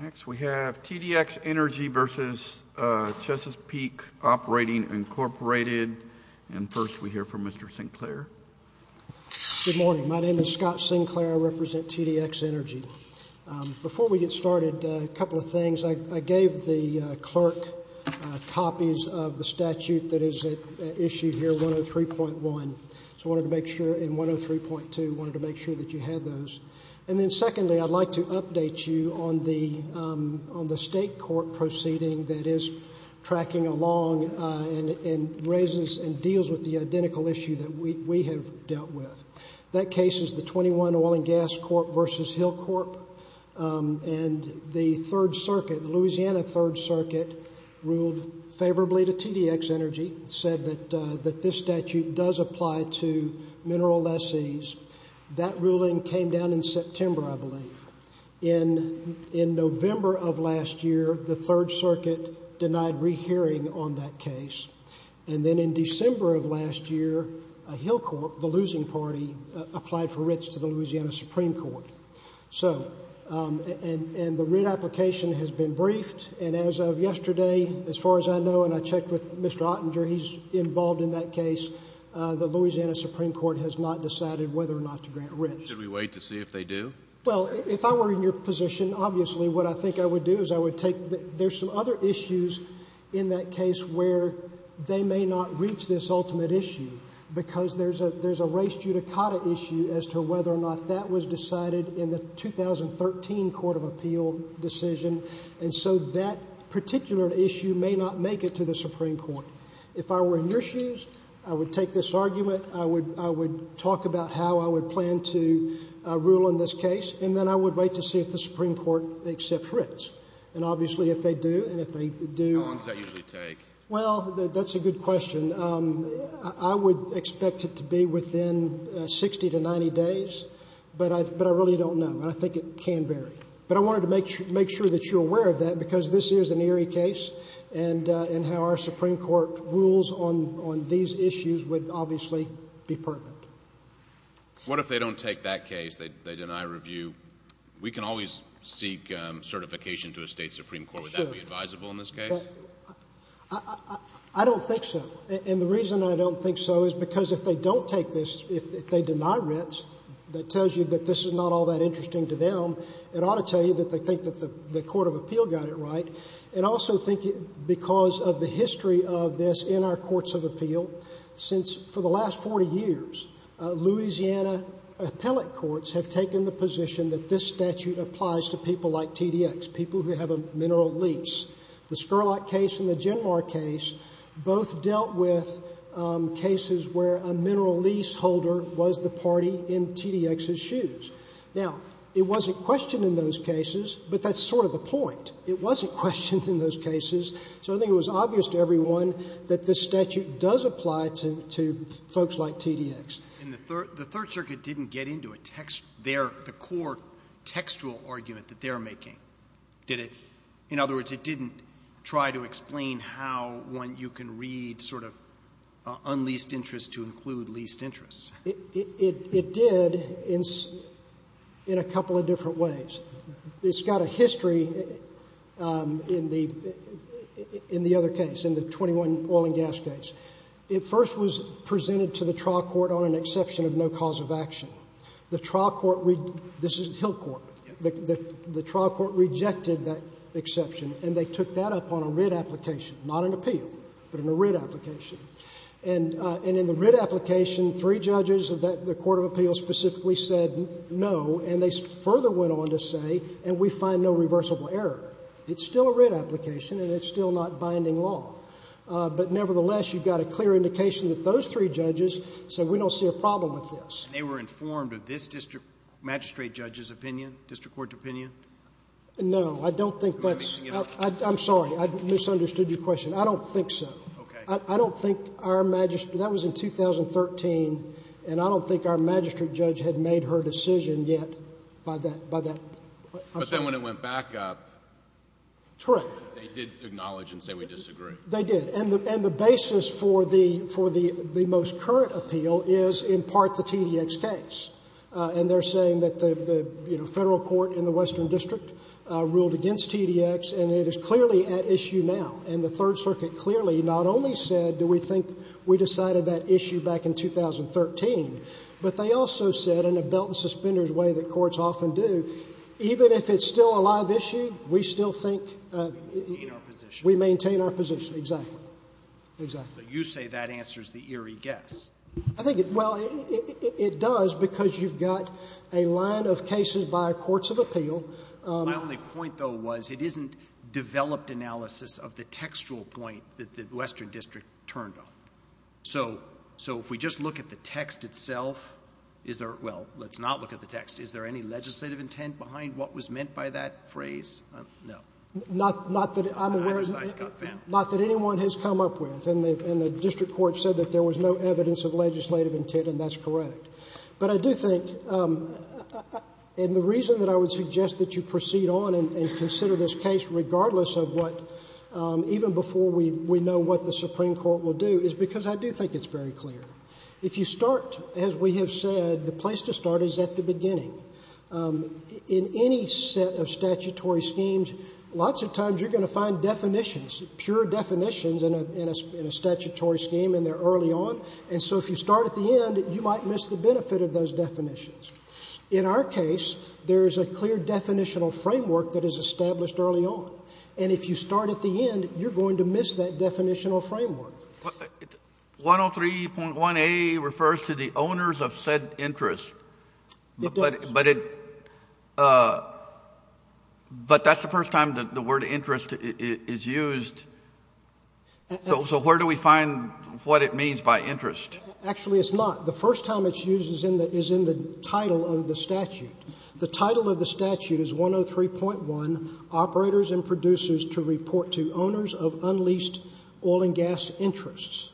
Next we have T D X Energy v. Chesapeake Operating, Inc. And first we hear from Mr. Sinclair. Good morning. My name is Scott Sinclair. I represent T D X Energy. Before we get started, a couple of things. I gave the clerk copies of the statute that is at issue here, 103.1. So I wanted to make sure in 103.2 I wanted to make sure that you had those. And then secondly, I'd like to update you on the state court proceeding that is tracking along and raises and deals with the identical issue that we have dealt with. That case is the 21 Oil and Gas Corp. v. Hill Corp. And the Third Circuit, the Louisiana Third Circuit, ruled favorably to T D X Energy, said that this statute does apply to mineral lessees. That ruling came down in September, I believe. In November of last year, the Third Circuit denied rehearing on that case. And then in December of last year, Hill Corp., the losing party, applied for writs to the Louisiana Supreme Court. And the writ application has been briefed. And as of yesterday, as far as I know, and I checked with Mr. Ottinger, he's involved in that case, the Louisiana Supreme Court has not decided whether or not to grant writs. Should we wait to see if they do? Well, if I were in your position, obviously what I think I would do is I would take there's some other issues in that case where they may not reach this ultimate issue because there's a race judicata issue as to whether or not that was decided in the 2013 Court of Appeal decision. And so that particular issue may not make it to the Supreme Court. If I were in your shoes, I would take this argument. I would talk about how I would plan to rule in this case. And then I would wait to see if the Supreme Court accepts writs. And obviously if they do, and if they do— How long does that usually take? Well, that's a good question. I would expect it to be within 60 to 90 days, but I really don't know. And I think it can vary. But I wanted to make sure that you're aware of that because this is an eerie case and how our Supreme Court rules on these issues would obviously be pertinent. What if they don't take that case, they deny review? We can always seek certification to a state Supreme Court. Would that be advisable in this case? I don't think so. And the reason I don't think so is because if they don't take this, if they deny writs, that tells you that this is not all that interesting to them, it ought to tell you that they think that the Court of Appeal got it right and also because of the history of this in our Courts of Appeal, since for the last 40 years Louisiana appellate courts have taken the position that this statute applies to people like TDX, people who have a mineral lease. The Scurlock case and the Genmar case both dealt with cases where a mineral lease holder was the party in TDX's shoes. Now, it wasn't questioned in those cases, but that's sort of the point. It wasn't questioned in those cases. So I think it was obvious to everyone that this statute does apply to folks like TDX. And the Third Circuit didn't get into a text there, the core textual argument that they're making, did it? In other words, it didn't try to explain how one, you can read sort of unleased interest to include leased interest. It did in a couple of different ways. It's got a history in the other case, in the 21 oil and gas case. It first was presented to the trial court on an exception of no cause of action. The trial court, this is Hill Court, the trial court rejected that exception, and they took that up on a writ application, not an appeal, but a writ application. And in the writ application, three judges of the Court of Appeal specifically said no, and they further went on to say, and we find no reversible error. It's still a writ application, and it's still not binding law. But nevertheless, you've got a clear indication that those three judges said, we don't see a problem with this. And they were informed of this district magistrate judge's opinion, district court's opinion? No. I don't think that's. I'm sorry. I misunderstood your question. I don't think so. Okay. I don't think our magistrate, that was in 2013, and I don't think our magistrate judge had made her decision yet by that. I'm sorry. But then when it went back up. Correct. They did acknowledge and say we disagree. They did. And the basis for the most current appeal is in part the TDX case. And they're saying that the federal court in the western district ruled against TDX, and it is clearly at issue now. And the Third Circuit clearly not only said, do we think we decided that issue back in 2013, but they also said in a belt-and-suspenders way that courts often do, even if it's still a live issue, we still think we maintain our position. Exactly. Exactly. But you say that answers the eerie guess. Well, it does because you've got a line of cases by courts of appeal. My only point, though, was it isn't developed analysis of the textual point that the western district turned on. So if we just look at the text itself, is there, well, let's not look at the text. Is there any legislative intent behind what was meant by that phrase? No. Not that I'm aware of. Not that anyone has come up with, and the district court said that there was no evidence of legislative intent, and that's correct. But I do think, and the reason that I would suggest that you proceed on and consider this case regardless of what, even before we know what the Supreme Court will do is because I do think it's very clear. If you start, as we have said, the place to start is at the beginning. In any set of statutory schemes, lots of times you're going to find definitions, pure definitions in a statutory scheme, and they're early on. And so if you start at the end, you might miss the benefit of those definitions. In our case, there is a clear definitional framework that is established early on. And if you start at the end, you're going to miss that definitional framework. 103.1a refers to the owners of said interest. It does. But it, but that's the first time the word interest is used. So where do we find what it means by interest? Actually, it's not. The first time it's used is in the title of the statute. The title of the statute is 103.1, Operators and Producers to Report to Owners of Unleased Oil and Gas Interests.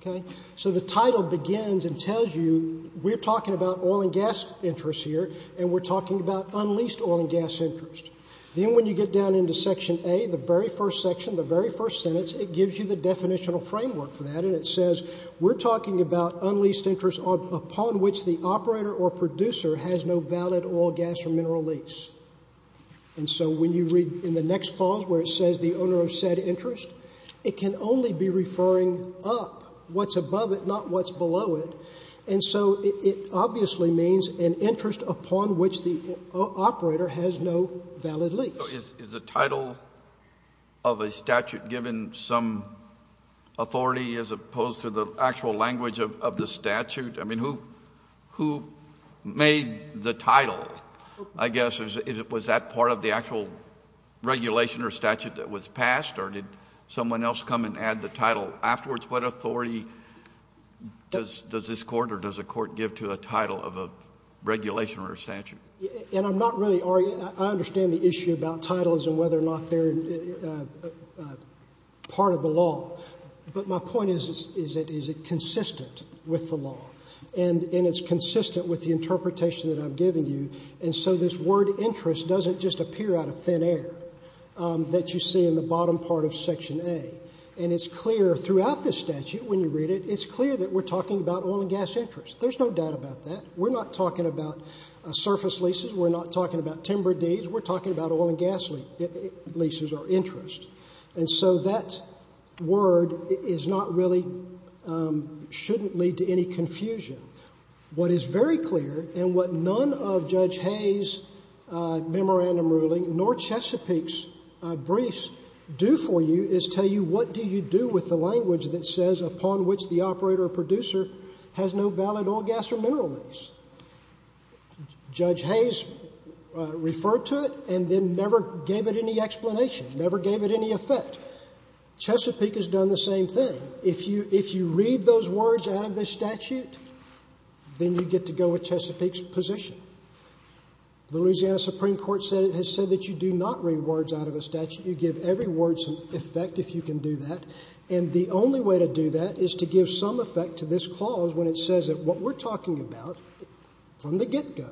Okay? So the title begins and tells you we're talking about oil and gas interests here, and we're talking about unleased oil and gas interest. Then when you get down into Section A, the very first section, the very first sentence, it gives you the definitional framework for that, and it says we're talking about unleased interest upon which the operator or producer has no valid oil, gas, or mineral lease. And so when you read in the next clause where it says the owner of said interest, it can only be referring up, what's above it, not what's below it. And so it obviously means an interest upon which the operator has no valid lease. So is the title of a statute given some authority as opposed to the actual language of the statute? I mean, who made the title, I guess? Was that part of the actual regulation or statute that was passed, or did someone else come and add the title afterwards? What authority does this Court or does the Court give to a title of a regulation or a statute? And I'm not really arguing, I understand the issue about titles and whether or not they're part of the law. But my point is, is it consistent with the law? And it's consistent with the interpretation that I've given you. And so this word interest doesn't just appear out of thin air that you see in the bottom part of Section A. And it's clear throughout the statute when you read it, it's clear that we're talking about oil and gas interest. There's no doubt about that. We're not talking about surface leases. We're not talking about timber deeds. We're talking about oil and gas leases or interest. And so that word is not really, shouldn't lead to any confusion. What is very clear, and what none of Judge Hayes' memorandum ruling nor Chesapeake's briefs do for you is tell you what do you do with the language that says upon which the operator or producer has no valid oil, gas, or mineral lease. Judge Hayes referred to it and then never gave it any explanation, never gave it any effect. Chesapeake has done the same thing. If you read those words out of this statute, then you get to go with Chesapeake's position. The Louisiana Supreme Court has said that you do not read words out of a statute. You give every word some effect if you can do that. And the only way to do that is to give some effect to this clause when it says that what we're talking about from the get-go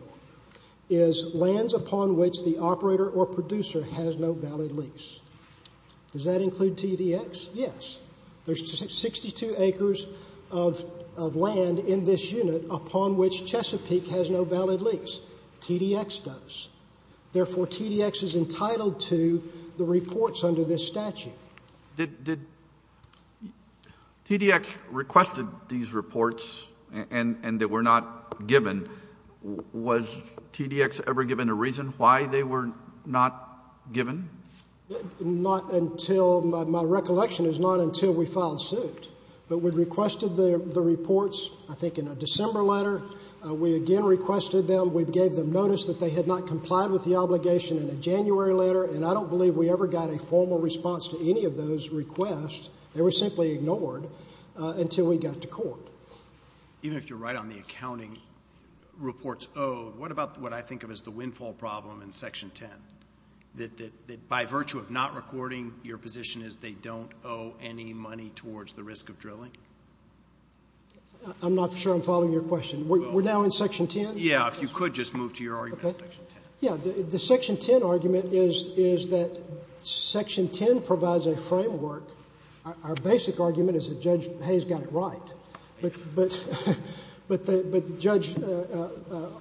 is lands upon which the operator or producer has no valid lease. Does that include TDX? Yes. There's 62 acres of land in this unit upon which Chesapeake has no valid lease. TDX does. Therefore, TDX is entitled to the reports under this statute. Did TDX request these reports and they were not given? Was TDX ever given a reason why they were not given? My recollection is not until we filed suit. But we requested the reports, I think, in a December letter. We again requested them. We gave them notice that they had not complied with the obligation in a January letter, and I don't believe we ever got a formal response to any of those requests. They were simply ignored until we got to court. Even if you're right on the accounting reports owed, what about what I think of as the windfall problem in Section 10, that by virtue of not recording, your position is they don't owe any money towards the risk of drilling? I'm not sure I'm following your question. We're now in Section 10? Yeah. If you could just move to your argument in Section 10. Yeah. The Section 10 argument is that Section 10 provides a framework. Our basic argument is that Judge Hayes got it right. But, Judge,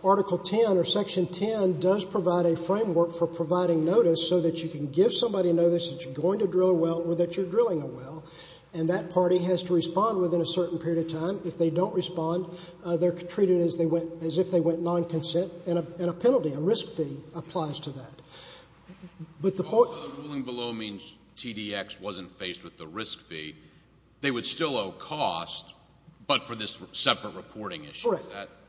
Article 10 or Section 10 does provide a framework for providing notice so that you can give somebody notice that you're going to drill a well or that you're drilling a well, and that party has to respond within a certain period of time. If they don't respond, they're treated as if they went non-consent, and a penalty, a risk fee, applies to that. But the point of the ruling below means TDX wasn't faced with the risk fee. They would still owe cost, but for this separate reporting issue. Correct.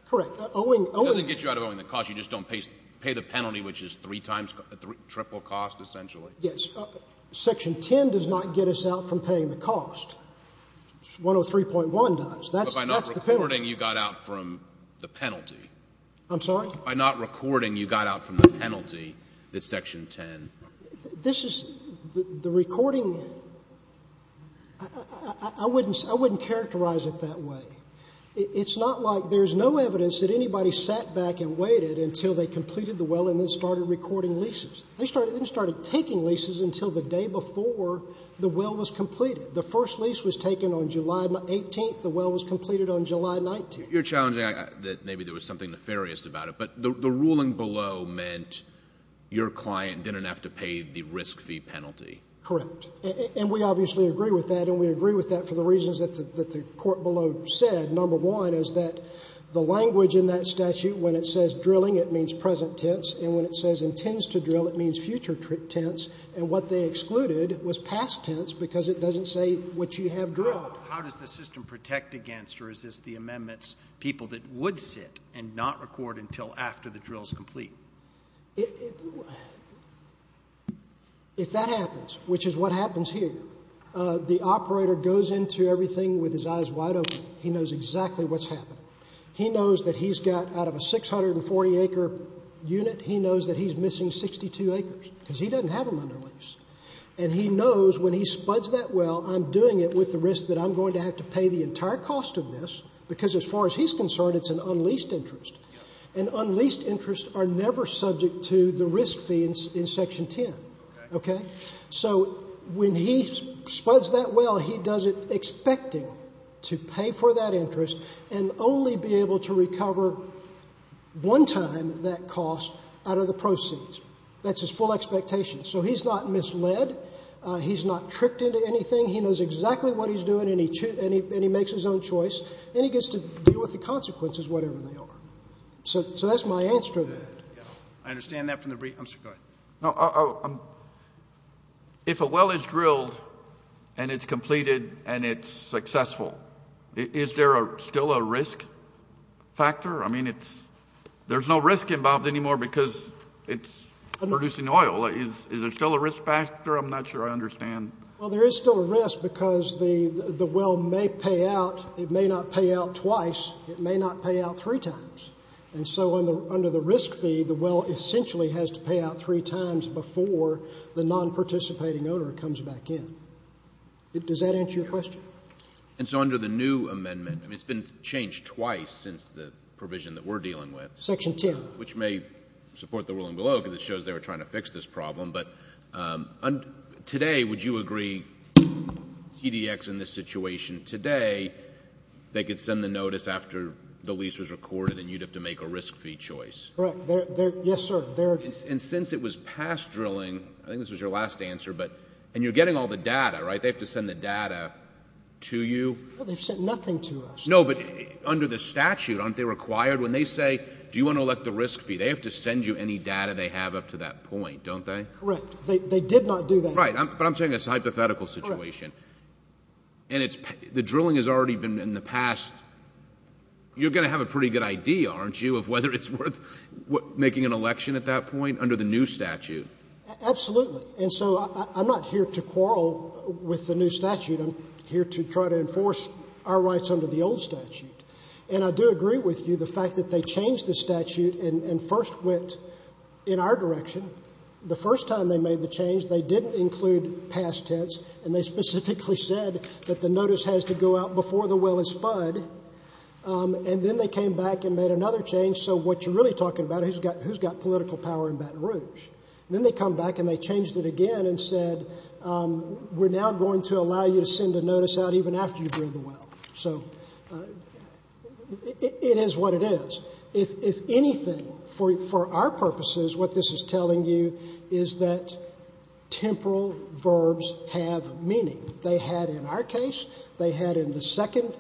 Correct. Owing. It doesn't get you out of owing the cost. You just don't pay the penalty, which is three times triple cost, essentially. Yes. Section 10 does not get us out from paying the cost. 103.1 does. That's the penalty. But by not recording, you got out from the penalty. I'm sorry? By not recording, you got out from the penalty that Section 10. This is the recording. I wouldn't characterize it that way. It's not like there's no evidence that anybody sat back and waited until they completed the well and then started recording leases. They started taking leases until the day before the well was completed. The first lease was taken on July 18th. The well was completed on July 19th. You're challenging that maybe there was something nefarious about it, but the ruling below meant your client didn't have to pay the risk fee penalty. Correct. And we obviously agree with that, and we agree with that for the reasons that the court below said. Number one is that the language in that statute, when it says drilling, it means present tense, and when it says intends to drill, it means future tense. And what they excluded was past tense because it doesn't say what you have drilled. How does the system protect against or resist the amendments people that would sit and not record until after the drill is complete? If that happens, which is what happens here, the operator goes into everything with his eyes wide open. He knows exactly what's happening. He knows that he's got out of a 640-acre unit, he knows that he's missing 62 acres because he doesn't have them under lease. And he knows when he spuds that well, I'm doing it with the risk that I'm going to have to pay the entire cost of this because as far as he's concerned, it's an unleased interest. And unleased interests are never subject to the risk fee in Section 10. So when he spuds that well, he does it expecting to pay for that interest and only be able to recover one time that cost out of the proceeds. That's his full expectation. So he's not misled. He's not tricked into anything. He knows exactly what he's doing, and he makes his own choice. And he gets to deal with the consequences, whatever they are. So that's my answer to that. I understand that. Go ahead. If a well is drilled and it's completed and it's successful, is there still a risk factor? I mean, there's no risk involved anymore because it's producing oil. Is there still a risk factor? I'm not sure I understand. Well, there is still a risk because the well may pay out. It may not pay out twice. It may not pay out three times. And so under the risk fee, the well essentially has to pay out three times before the non-participating owner comes back in. Does that answer your question? And so under the new amendment, I mean, it's been changed twice since the provision that we're dealing with. Section 10. Which may support the ruling below because it shows they were trying to fix this problem. But today, would you agree, TDX in this situation, today they could send the notice after the lease was recorded and you'd have to make a risk fee choice? Correct. Yes, sir. And since it was past drilling, I think this was your last answer, and you're getting all the data, right? They have to send the data to you? Well, they've sent nothing to us. No, but under the statute, aren't they required when they say do you want to elect the risk fee, they have to send you any data they have up to that point, don't they? Correct. They did not do that. Right. But I'm saying it's a hypothetical situation. Correct. And the drilling has already been in the past. You're going to have a pretty good idea, aren't you, of whether it's worth making an election at that point under the new statute? Absolutely. And so I'm not here to quarrel with the new statute. I'm here to try to enforce our rights under the old statute. And I do agree with you, the fact that they changed the statute and first went in our direction. The first time they made the change, they didn't include past tense, and they specifically said that the notice has to go out before the well is fudged. And then they came back and made another change. So what you're really talking about is who's got political power in Baton Rouge? And then they come back and they changed it again and said, we're now going to allow you to send a notice out even after you drill the well. So it is what it is. If anything, for our purposes, what this is telling you is that temporal verbs have meaning. They had in our case, they had in the second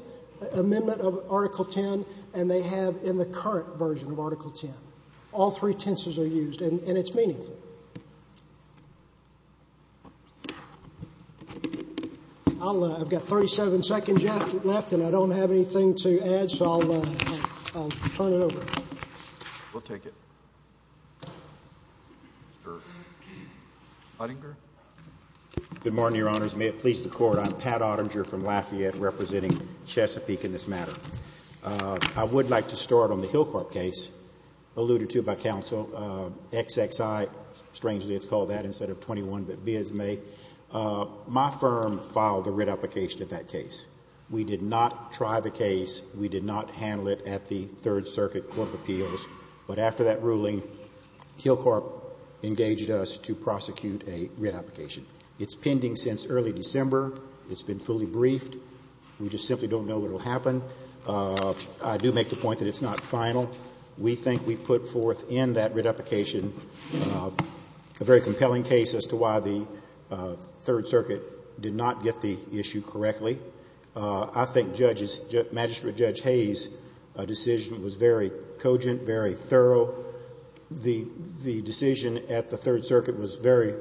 amendment of Article 10, and they have in the current version of Article 10. All three tenses are used, and it's meaningful. Thank you. I've got 37 seconds left, and I don't have anything to add, so I'll turn it over. We'll take it. Mr. Uttinger. Good morning, Your Honors. May it please the Court, I'm Pat Uttinger from Lafayette representing Chesapeake in this matter. I would like to start on the Hillcorp case alluded to by counsel, XXI. Strangely, it's called that instead of 21, but be as may. My firm filed a writ application in that case. We did not try the case. We did not handle it at the Third Circuit Court of Appeals. But after that ruling, Hillcorp engaged us to prosecute a writ application. It's pending since early December. It's been fully briefed. We just simply don't know what will happen. I do make the point that it's not final. We think we put forth in that writ application a very compelling case as to why the Third Circuit did not get the issue correctly. I think Judge's, Magistrate Judge Hayes' decision was very cogent, very thorough. The decision at the Third Circuit was very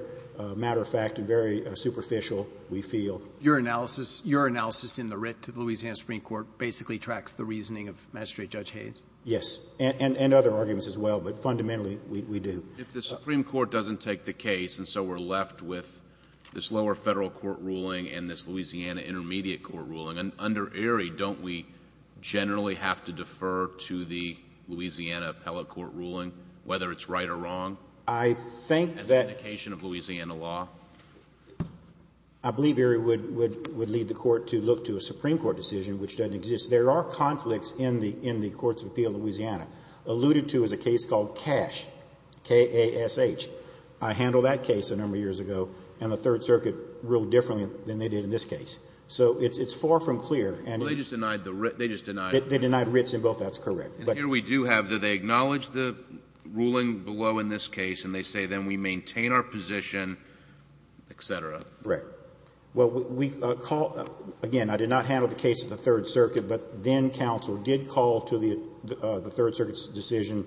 matter-of-fact and very superficial, we feel. Roberts. Your analysis in the writ to the Louisiana Supreme Court basically tracks the reasoning of Magistrate Judge Hayes? Yes. And other arguments as well. But fundamentally, we do. If the Supreme Court doesn't take the case, and so we're left with this lower Federal court ruling and this Louisiana intermediate court ruling, under Erie, don't we generally have to defer to the Louisiana appellate court ruling, whether it's right or wrong? I think that — As an indication of Louisiana law? I believe Erie would lead the Court to look to a Supreme Court decision which doesn't exist. There are conflicts in the courts of appeal in Louisiana alluded to as a case called Cash, K-A-S-H. I handled that case a number of years ago, and the Third Circuit ruled differently than they did in this case. So it's far from clear. Well, they just denied the writ. They just denied it. They denied writs in both. That's correct. And here we do have, do they acknowledge the ruling below in this case, and they say then we maintain our position, et cetera? Correct. Well, again, I did not handle the case of the Third Circuit, but then counsel did call to the Third Circuit's decision,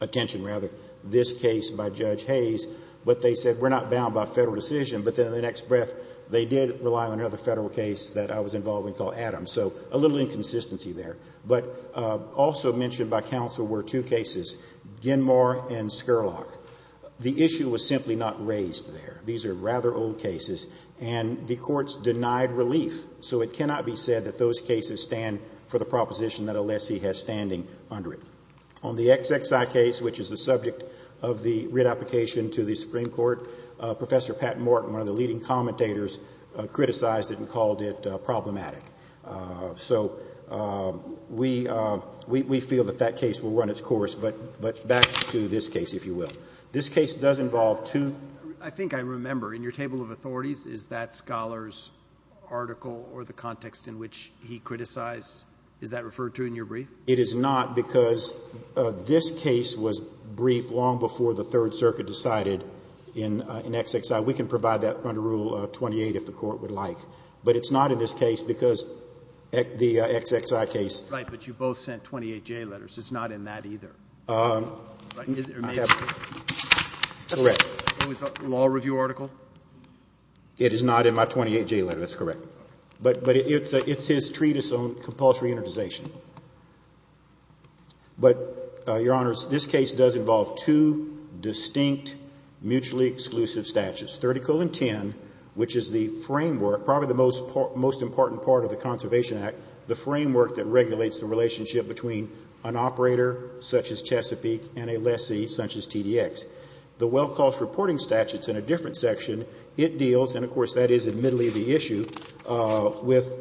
attention rather, this case by Judge Hayes, but they said we're not bound by Federal decision. But then in the next breath, they did rely on another Federal case that I was involved in called Adams. So a little inconsistency there. But also mentioned by counsel were two cases, Ginmore and Scurlock. The issue was simply not raised there. These are rather old cases, and the courts denied relief. So it cannot be said that those cases stand for the proposition that a lessee has standing under it. On the XXI case, which is the subject of the writ application to the Supreme Court, Professor Pat Morton, one of the leading commentators, criticized it and called it problematic. So we feel that that case will run its course. But back to this case, if you will. This case does involve two. I think I remember. In your table of authorities, is that Scholar's article or the context in which he criticized, is that referred to in your brief? It is not because this case was briefed long before the Third Circuit decided in XXI. We can provide that under Rule 28 if the court would like. But it's not in this case because the XXI case. Right, but you both sent 28J letters. It's not in that either. I have it. Correct. It was a law review article? It is not in my 28J letter. That's correct. But it's his treatise on compulsory immunization. But, Your Honors, this case does involve two distinct mutually exclusive statutes, 30-10, which is the framework, probably the most important part of the Conservation Act, the framework that regulates the relationship between an operator, such as Chesapeake, and a lessee, such as TDX. The well-cost reporting statute is in a different section. It deals, and of course that is admittedly the issue, with,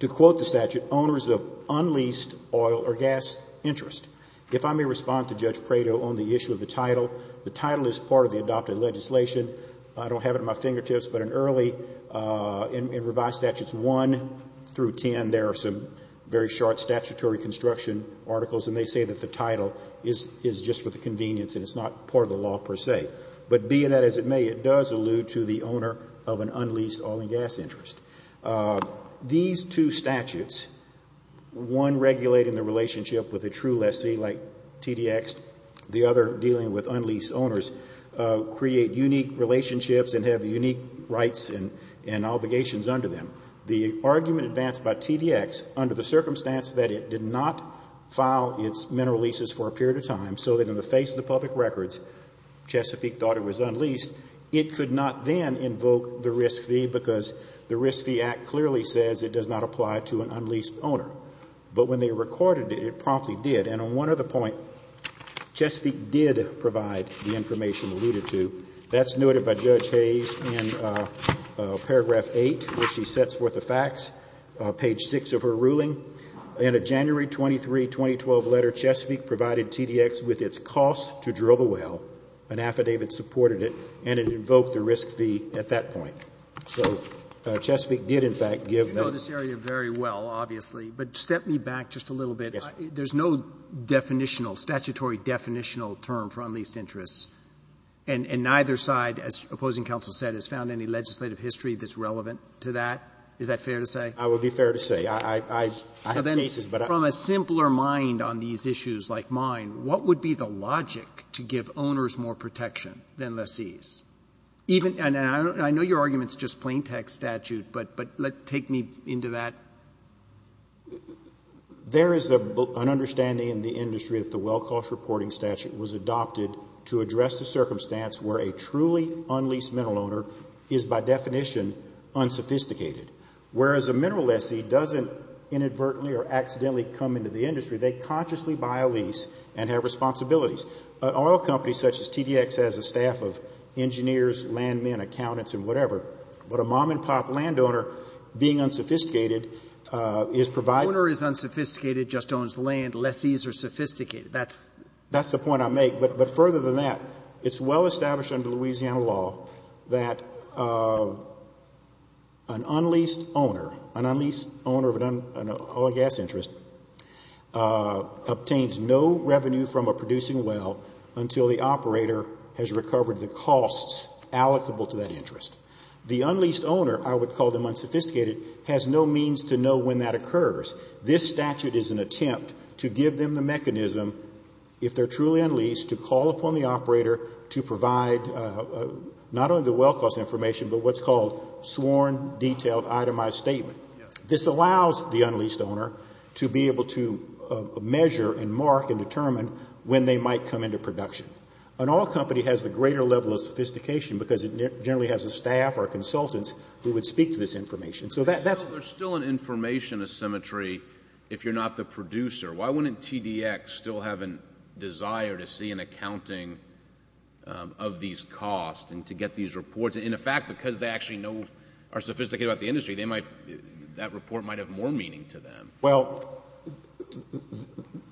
to quote the statute, owners of unleased oil or gas interest. If I may respond to Judge Prado on the issue of the title, the title is part of the adopted legislation. I don't have it at my fingertips, but in early, in revised statutes 1 through 10, there are some very short statutory construction articles, and they say that the title is just for the convenience and it's not part of the law per se. But being that, as it may, it does allude to the owner of an unleased oil and gas interest. These two statutes, one regulating the relationship with a true lessee like TDX, the other dealing with unleased owners, create unique relationships and have unique rights and obligations under them. The argument advanced by TDX under the circumstance that it did not file its mineral leases for a period of time so that in the face of the public records Chesapeake thought it was unleased, it could not then invoke the risk fee because the Risk Fee Act clearly says it does not apply to an unleased owner. But when they recorded it, it promptly did. And on one other point, Chesapeake did provide the information alluded to. That's noted by Judge Hayes in paragraph 8 where she sets forth the facts, page 6 of her ruling. In a January 23, 2012 letter, Chesapeake provided TDX with its cost to drill the well, an affidavit supported it, and it invoked the risk fee at that point. So Chesapeake did, in fact, give them. You know this area very well, obviously, but step me back just a little bit. There's no definitional, statutory definitional term for unleased interests, and neither side, as opposing counsel said, has found any legislative history that's relevant to that. Is that fair to say? I would be fair to say. I have cases, but I don't know. So then from a simpler mind on these issues like mine, what would be the logic to give owners more protection than lessees? And I know your argument is just plain text statute, but take me into that. There is an understanding in the industry that the well cost reporting statute was adopted to address the circumstance where a truly unleased mineral owner is by definition unsophisticated. Whereas a mineral lessee doesn't inadvertently or accidentally come into the industry, they consciously buy a lease and have responsibilities. An oil company such as TDX has a staff of engineers, land men, accountants, and whatever, but a mom and pop land owner being unsophisticated is providing. The owner is unsophisticated, just owns land. Lessees are sophisticated. That's the point I make. But further than that, it's well established under Louisiana law that an unleased owner, an unleased owner of an oil and gas interest, obtains no revenue from a producing well until the operator has recovered the costs allocable to that interest. The unleased owner, I would call them unsophisticated, has no means to know when that occurs. This statute is an attempt to give them the mechanism, if they're truly unleased, to call upon the operator to provide not only the well cost information, but what's called sworn detailed itemized statement. This allows the unleased owner to be able to measure and mark and determine when they might come into production. An oil company has the greater level of sophistication because it generally has a staff or consultants who would speak to this information. There's still an information asymmetry if you're not the producer. Why wouldn't TDX still have a desire to see an accounting of these costs and to get these reports? In fact, because they actually know, are sophisticated about the industry, that report might have more meaning to them. Well,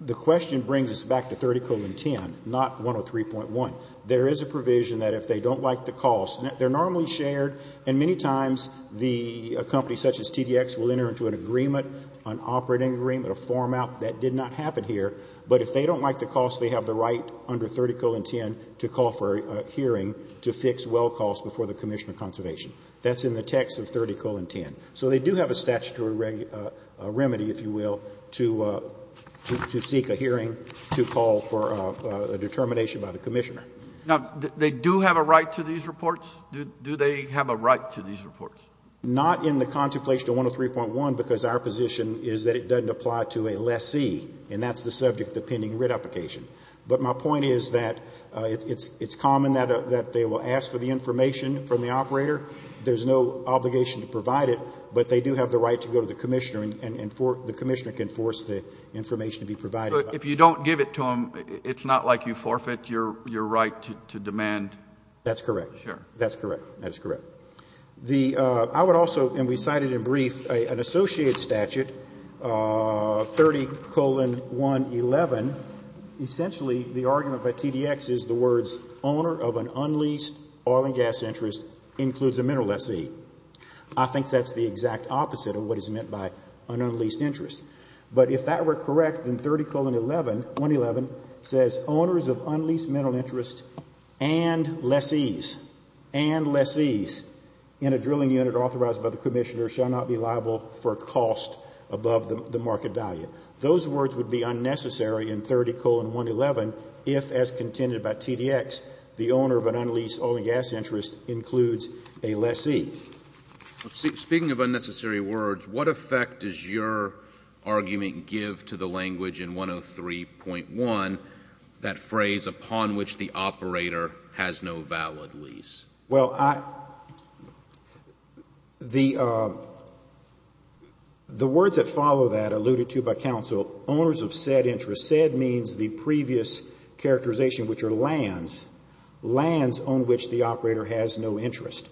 the question brings us back to 30 colon 10, not 103.1. There is a provision that if they don't like the cost, they're normally shared, and many times the company such as TDX will enter into an agreement, an operating agreement, a form out. That did not happen here. But if they don't like the cost, they have the right under 30 colon 10 to call for a hearing to fix well costs before the Commission of Conservation. That's in the text of 30 colon 10. So they do have a statutory remedy, if you will, to seek a hearing to call for a determination by the Commissioner. Now, they do have a right to these reports? Do they have a right to these reports? Not in the contemplation of 103.1 because our position is that it doesn't apply to a lessee, and that's the subject of pending writ application. But my point is that it's common that they will ask for the information from the operator. There's no obligation to provide it, but they do have the right to go to the Commissioner and the Commissioner can force the information to be provided. So if you don't give it to them, it's not like you forfeit your right to demand? That's correct. Sure. That's correct. That is correct. I would also, and we cited in brief, an associated statute, 30 colon 111. Essentially, the argument by TDX is the words owner of an unleased oil and gas interest includes a mineral lessee. I think that's the exact opposite of what is meant by an unleased interest. But if that were correct, then 30 colon 111 says owners of unleased mineral interest and lessees, and lessees in a drilling unit authorized by the Commissioner shall not be liable for cost above the market value. Those words would be unnecessary in 30 colon 111 if, as contended by TDX, the owner of an unleased oil and gas interest includes a lessee. Speaking of unnecessary words, what effect does your argument give to the language in 103.1, that phrase upon which the operator has no valid lease? Well, the words that follow that alluded to by counsel, owners of said interest, said means the previous characterization, which are lands, lands on which the operator has no interest.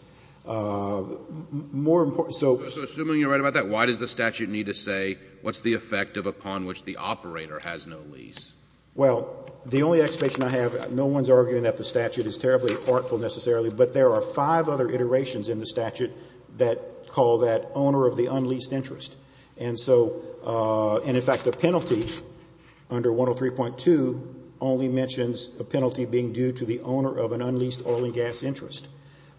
More important, so. So assuming you're right about that, why does the statute need to say what's the effect upon which the operator has no lease? Well, the only explanation I have, no one's arguing that the statute is terribly artful necessarily, but there are five other iterations in the statute that call that owner of the unleased interest. And so, and in fact, the penalty under 103.2 only mentions a penalty being due to the owner of an unleased oil and gas interest.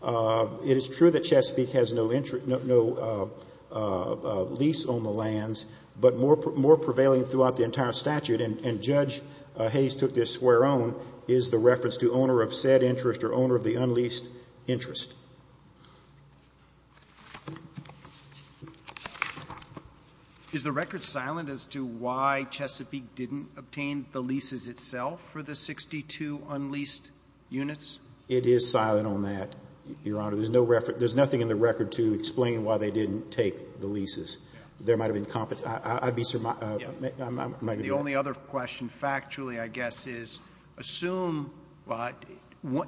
It is true that Chesapeake has no lease on the lands, but more prevailing throughout the entire statute and Judge Hayes took this square on, is the reference to owner of said interest or owner of the unleased interest. Is the record silent as to why Chesapeake didn't obtain the leases itself for the 62 unleased units? It is silent on that, Your Honor. There's no reference, there's nothing in the record to explain why they didn't take the leases. There might have been, I'd be surmised, I might be wrong. My only other question factually, I guess, is assume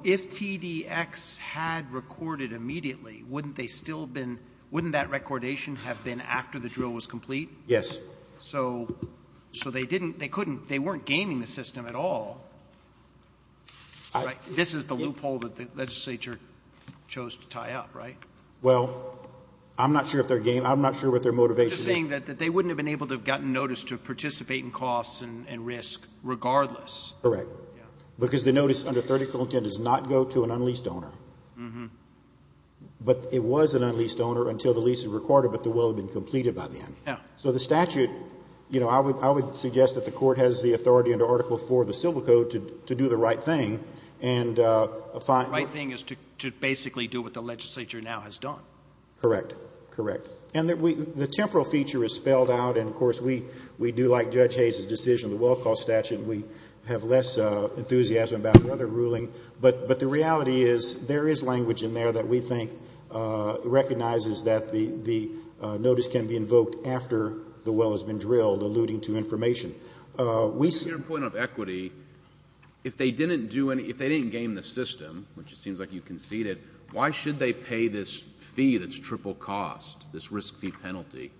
if TDX had recorded immediately, wouldn't they still have been, wouldn't that recordation have been after the drill was complete? Yes. So they didn't, they couldn't, they weren't gaining the system at all, right? This is the loophole that the legislature chose to tie up, right? Well, I'm not sure if they're gaining, I'm not sure what their motivation is. I'm guessing that they wouldn't have been able to have gotten notice to participate in costs and risk regardless. Correct. Because the notice under 30.10 does not go to an unleased owner. But it was an unleased owner until the lease was recorded, but the will had been completed by then. So the statute, you know, I would suggest that the court has the authority under Article IV of the Civil Code to do the right thing. The right thing is to basically do what the legislature now has done. Correct. Correct. And the temporal feature is spelled out, and, of course, we do like Judge Hayes' decision, the well cost statute, and we have less enthusiasm about another ruling. But the reality is there is language in there that we think recognizes that the notice can be invoked after the well has been drilled, alluding to information. To your point of equity, if they didn't do any, if they didn't gain the system, which it seems like you conceded, why should they pay this fee that's triple cost, this risk fee penalty?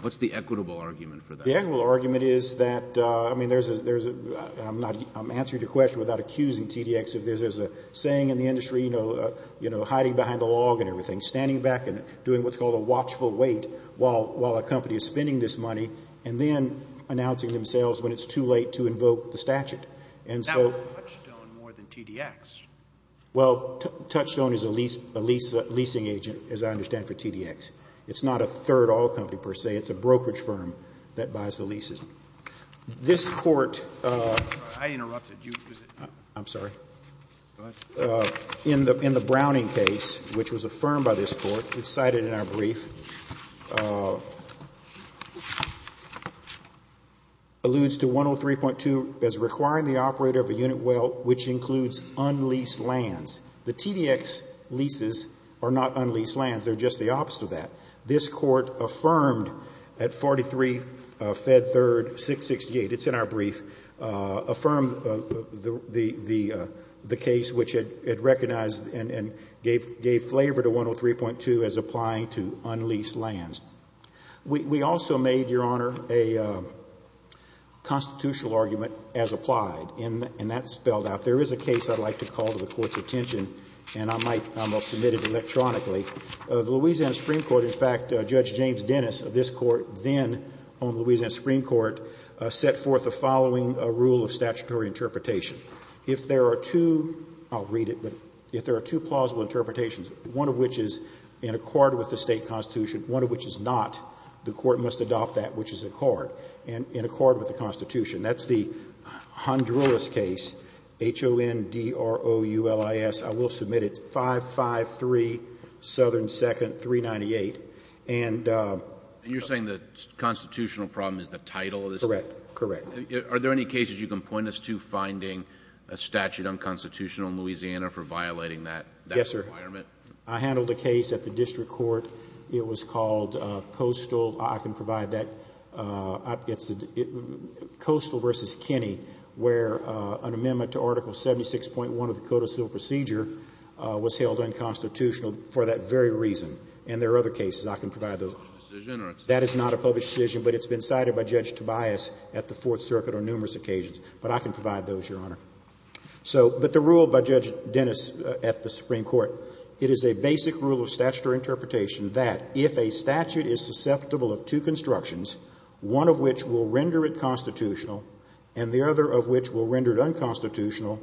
What's the equitable argument for that? The equitable argument is that, I mean, there's a, and I'm answering your question without accusing TDX, if there's a saying in the industry, you know, hiding behind the log and everything, standing back and doing what's called a watchful wait while a company is spending this money and then announcing themselves when it's too late to invoke the statute. That would touchstone more than TDX. Well, touchstone is a leasing agent, as I understand, for TDX. It's not a third oil company, per se. It's a brokerage firm that buys the leases. This Court, I interrupted you. I'm sorry. Go ahead. In the Browning case, which was affirmed by this Court, it's cited in our brief, alludes to 103.2 as requiring the operator of a unit well, which includes unleased lands. The TDX leases are not unleased lands. They're just the opposite of that. This Court affirmed at 43 Fed Third 668, it's in our brief, affirmed the case, which it recognized and gave flavor to 103.2 as applying to unleased lands. We also made, Your Honor, a constitutional argument as applied, and that's spelled out. There is a case I'd like to call to the Court's attention, and I might submit it electronically. The Louisiana Supreme Court, in fact, Judge James Dennis of this Court, then owned the Louisiana Supreme Court, set forth the following rule of statutory interpretation. If there are two, I'll read it, but if there are two plausible interpretations, one of which is in accord with the state constitution, one of which is not, the Court must adopt that which is in accord with the constitution. That's the Honduras case, H-O-N-D-R-O-U-L-I-S. I will submit it 553 Southern 2nd 398. You're saying the constitutional problem is the title of the statute? Correct. Are there any cases you can point us to finding a statute unconstitutional in Louisiana for violating that requirement? I handled a case at the district court. It was called Coastal. I can provide that. It's Coastal v. Kinney, where an amendment to Article 76.1 of the Code of Civil Procedure was held unconstitutional for that very reason. And there are other cases. I can provide those. That is not a published decision, but it's been cited by Judge Tobias at the Fourth Circuit on numerous occasions. But I can provide those, Your Honor. But the rule by Judge Dennis at the Supreme Court, it is a basic rule of statutory interpretation that if a statute is susceptible of two constructions, one of which will render it constitutional and the other of which will render it unconstitutional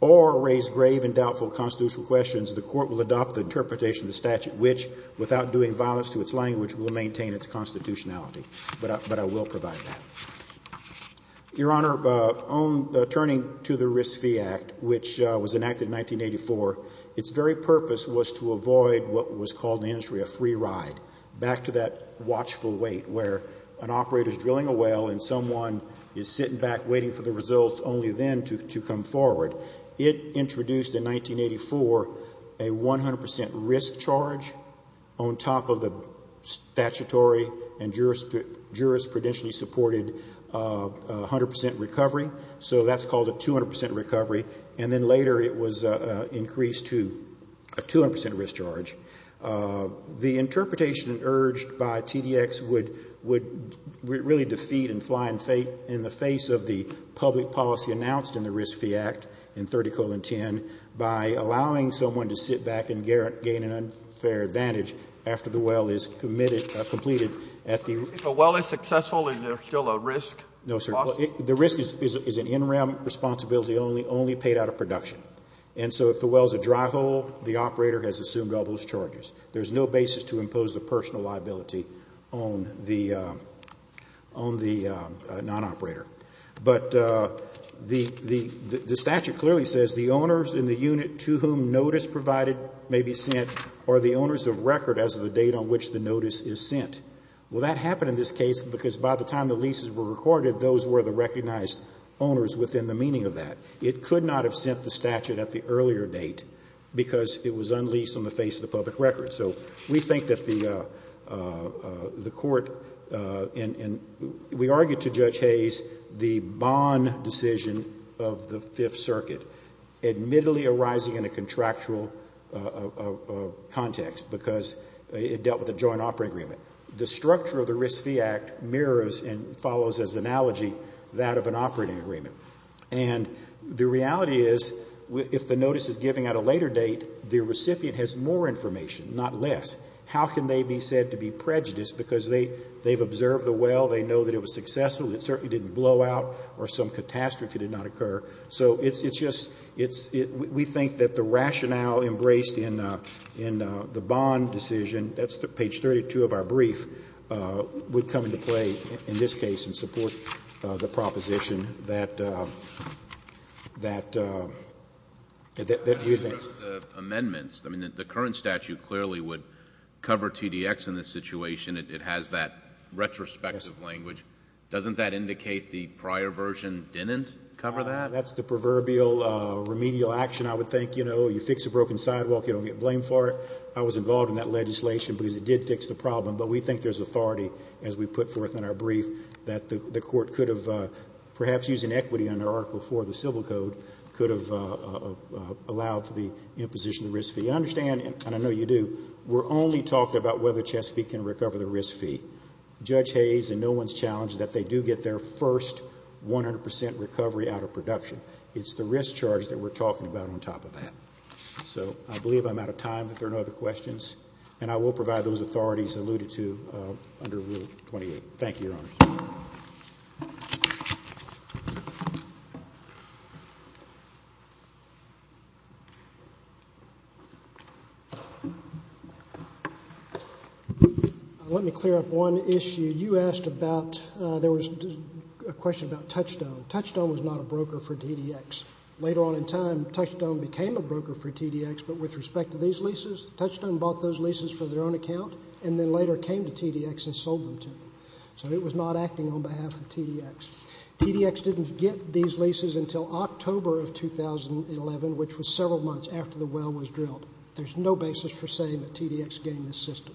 or raise grave and doubtful constitutional questions, the Court will adopt the interpretation of the statute, which, without doing violence to its language, will maintain its constitutionality. But I will provide that. Your Honor, turning to the Risk Fee Act, which was enacted in 1984, its very purpose was to avoid what was called in the industry a free ride, back to that watchful wait where an operator is drilling a well and someone is sitting back waiting for the results only then to come forward. It introduced in 1984 a 100% risk charge on top of the statutory and jurisprudentially supported 100% recovery. So that's called a 200% recovery. And then later it was increased to a 200% risk charge. The interpretation urged by TDX would really defeat and fly in the face of the public policy announced in the Risk Fee Act. In 30-10, by allowing someone to sit back and gain an unfair advantage after the well is committed, completed. If a well is successful, is there still a risk? No, sir. The risk is an interim responsibility only paid out of production. And so if the well is a dry hole, the operator has assumed all those charges. There's no basis to impose the personal liability on the non-operator. But the statute clearly says the owners in the unit to whom notice provided may be sent or the owners of record as of the date on which the notice is sent. Well, that happened in this case because by the time the leases were recorded, those were the recognized owners within the meaning of that. It could not have sent the statute at the earlier date because it was unleased on the face of the public record. So we think that the court and we argued to Judge Hayes the bond decision of the Fifth Circuit, admittedly arising in a contractual context because it dealt with a joint operating agreement. The structure of the Risk Fee Act mirrors and follows as an analogy that of an operating agreement. And the reality is if the notice is given at a later date, the recipient has more information, not less. How can they be said to be prejudiced because they've observed the well, they know that it was successful, it certainly didn't blow out or some catastrophe did not occur. So it's just we think that the rationale embraced in the bond decision, that's page 32 of our brief, would come into play in this case and support the proposition that we've made. The amendments, I mean, the current statute clearly would cover TDX in this situation. It has that retrospective language. Doesn't that indicate the prior version didn't cover that? That's the proverbial remedial action. I would think, you know, you fix a broken sidewalk, you don't get blamed for it. I was involved in that legislation because it did fix the problem, but we think there's authority, as we put forth in our brief, that the court could have, perhaps using equity under Article IV of the Civil Code, could have allowed for the imposition of the risk fee. And understand, and I know you do, we're only talking about whether Chesapeake can recover the risk fee. Judge Hayes and no one's challenged that they do get their first 100% recovery out of production. It's the risk charge that we're talking about on top of that. So I believe I'm out of time, but if there are no other questions, and I will provide those authorities alluded to under Rule 28. Thank you, Your Honors. Let me clear up one issue. You asked about, there was a question about Touchstone. Touchstone was not a broker for TDX. Later on in time, Touchstone became a broker for TDX, but with respect to these leases, Touchstone bought those leases for their own account and then later came to TDX and sold them to them. So it was not acting on behalf of TDX. TDX didn't get these leases until October of 2011, which was several months after the well was drilled. There's no basis for saying that TDX gained this system.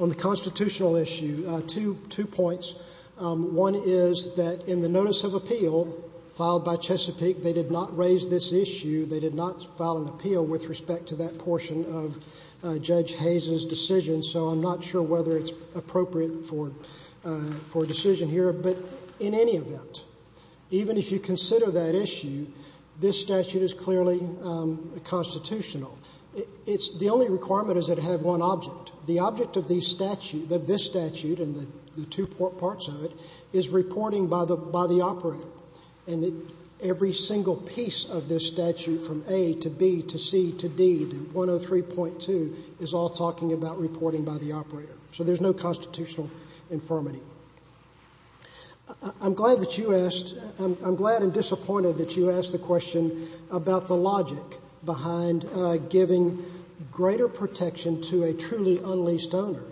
On the constitutional issue, two points. One is that in the notice of appeal filed by Chesapeake, they did not raise this issue. They did not file an appeal with respect to that portion of Judge Hayes' decision, so I'm not sure whether it's appropriate for a decision here. But in any event, even if you consider that issue, this statute is clearly constitutional. The only requirement is that it have one object. The object of this statute and the two parts of it is reporting by the operator, and every single piece of this statute from A to B to C to D to 103.2 is all talking about reporting by the operator. So there's no constitutional infirmity. I'm glad and disappointed that you asked the question about the logic behind giving greater protection to a truly unleased owner.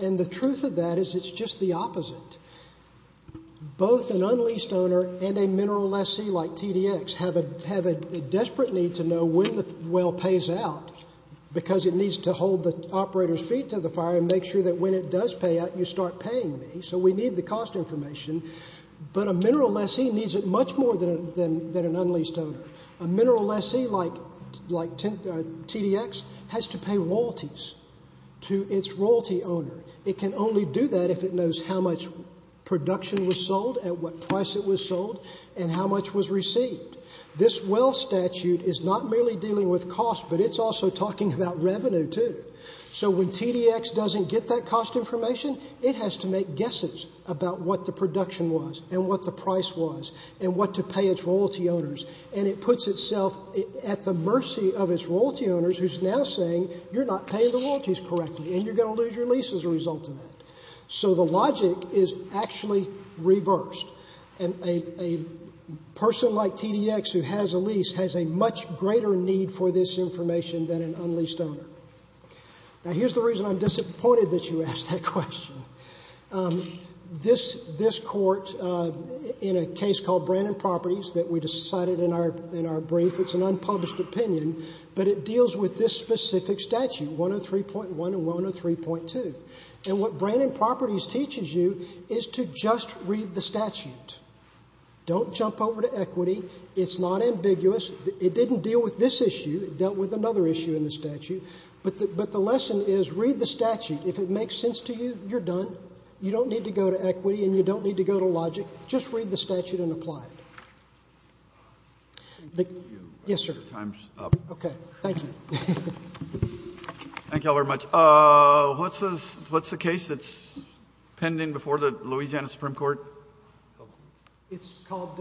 And the truth of that is it's just the opposite. Both an unleased owner and a mineral lessee like TDX have a desperate need to know when the well pays out because it needs to hold the operator's feet to the fire and make sure that when it does pay out, you start paying me. So we need the cost information, but a mineral lessee needs it much more than an unleased owner. A mineral lessee like TDX has to pay royalties to its royalty owner. It can only do that if it knows how much production was sold, at what price it was sold, and how much was received. This well statute is not merely dealing with cost, but it's also talking about revenue, too. So when TDX doesn't get that cost information, it has to make guesses about what the production was and what the price was and what to pay its royalty owners. And it puts itself at the mercy of its royalty owners, who's now saying, you're not paying the royalties correctly and you're going to lose your lease as a result of that. So the logic is actually reversed. A person like TDX who has a lease has a much greater need for this information than an unleased owner. Now, here's the reason I'm disappointed that you asked that question. This court, in a case called Brandon Properties that we decided in our brief, it's an unpublished opinion, but it deals with this specific statute, 103.1 and 103.2. And what Brandon Properties teaches you is to just read the statute. Don't jump over to equity. It's not ambiguous. It didn't deal with this issue. It dealt with another issue in the statute. But the lesson is read the statute. If it makes sense to you, you're done. You don't need to go to equity and you don't need to go to logic. Just read the statute and apply it. Yes, sir. Okay. Thank you. Thank you all very much. What's the case that's pending before the Louisiana Supreme Court? It's called,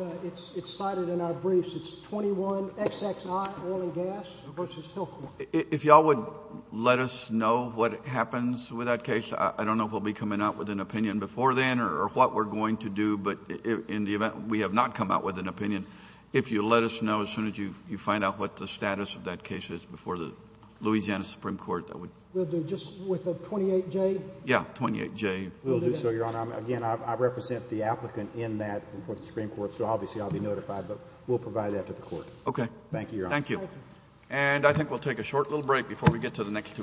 it's cited in our briefs. It's 21XXI Oil and Gas v. Hillcourt. If you all would let us know what happens with that case, I don't know if we'll be coming out with an opinion before then or what we're going to do, but in the event we have not come out with an opinion, if you let us know as soon as you find out what the status of that case is before the Louisiana Supreme Court, we'll do just with the 28J? Yes, 28J. We'll do so, Your Honor. Again, I represent the applicant in that Supreme Court, so obviously I'll be notified, but we'll provide that to the court. Okay. Thank you, Your Honor. Thank you. And I think we'll take a short little break before we get to the next two cases.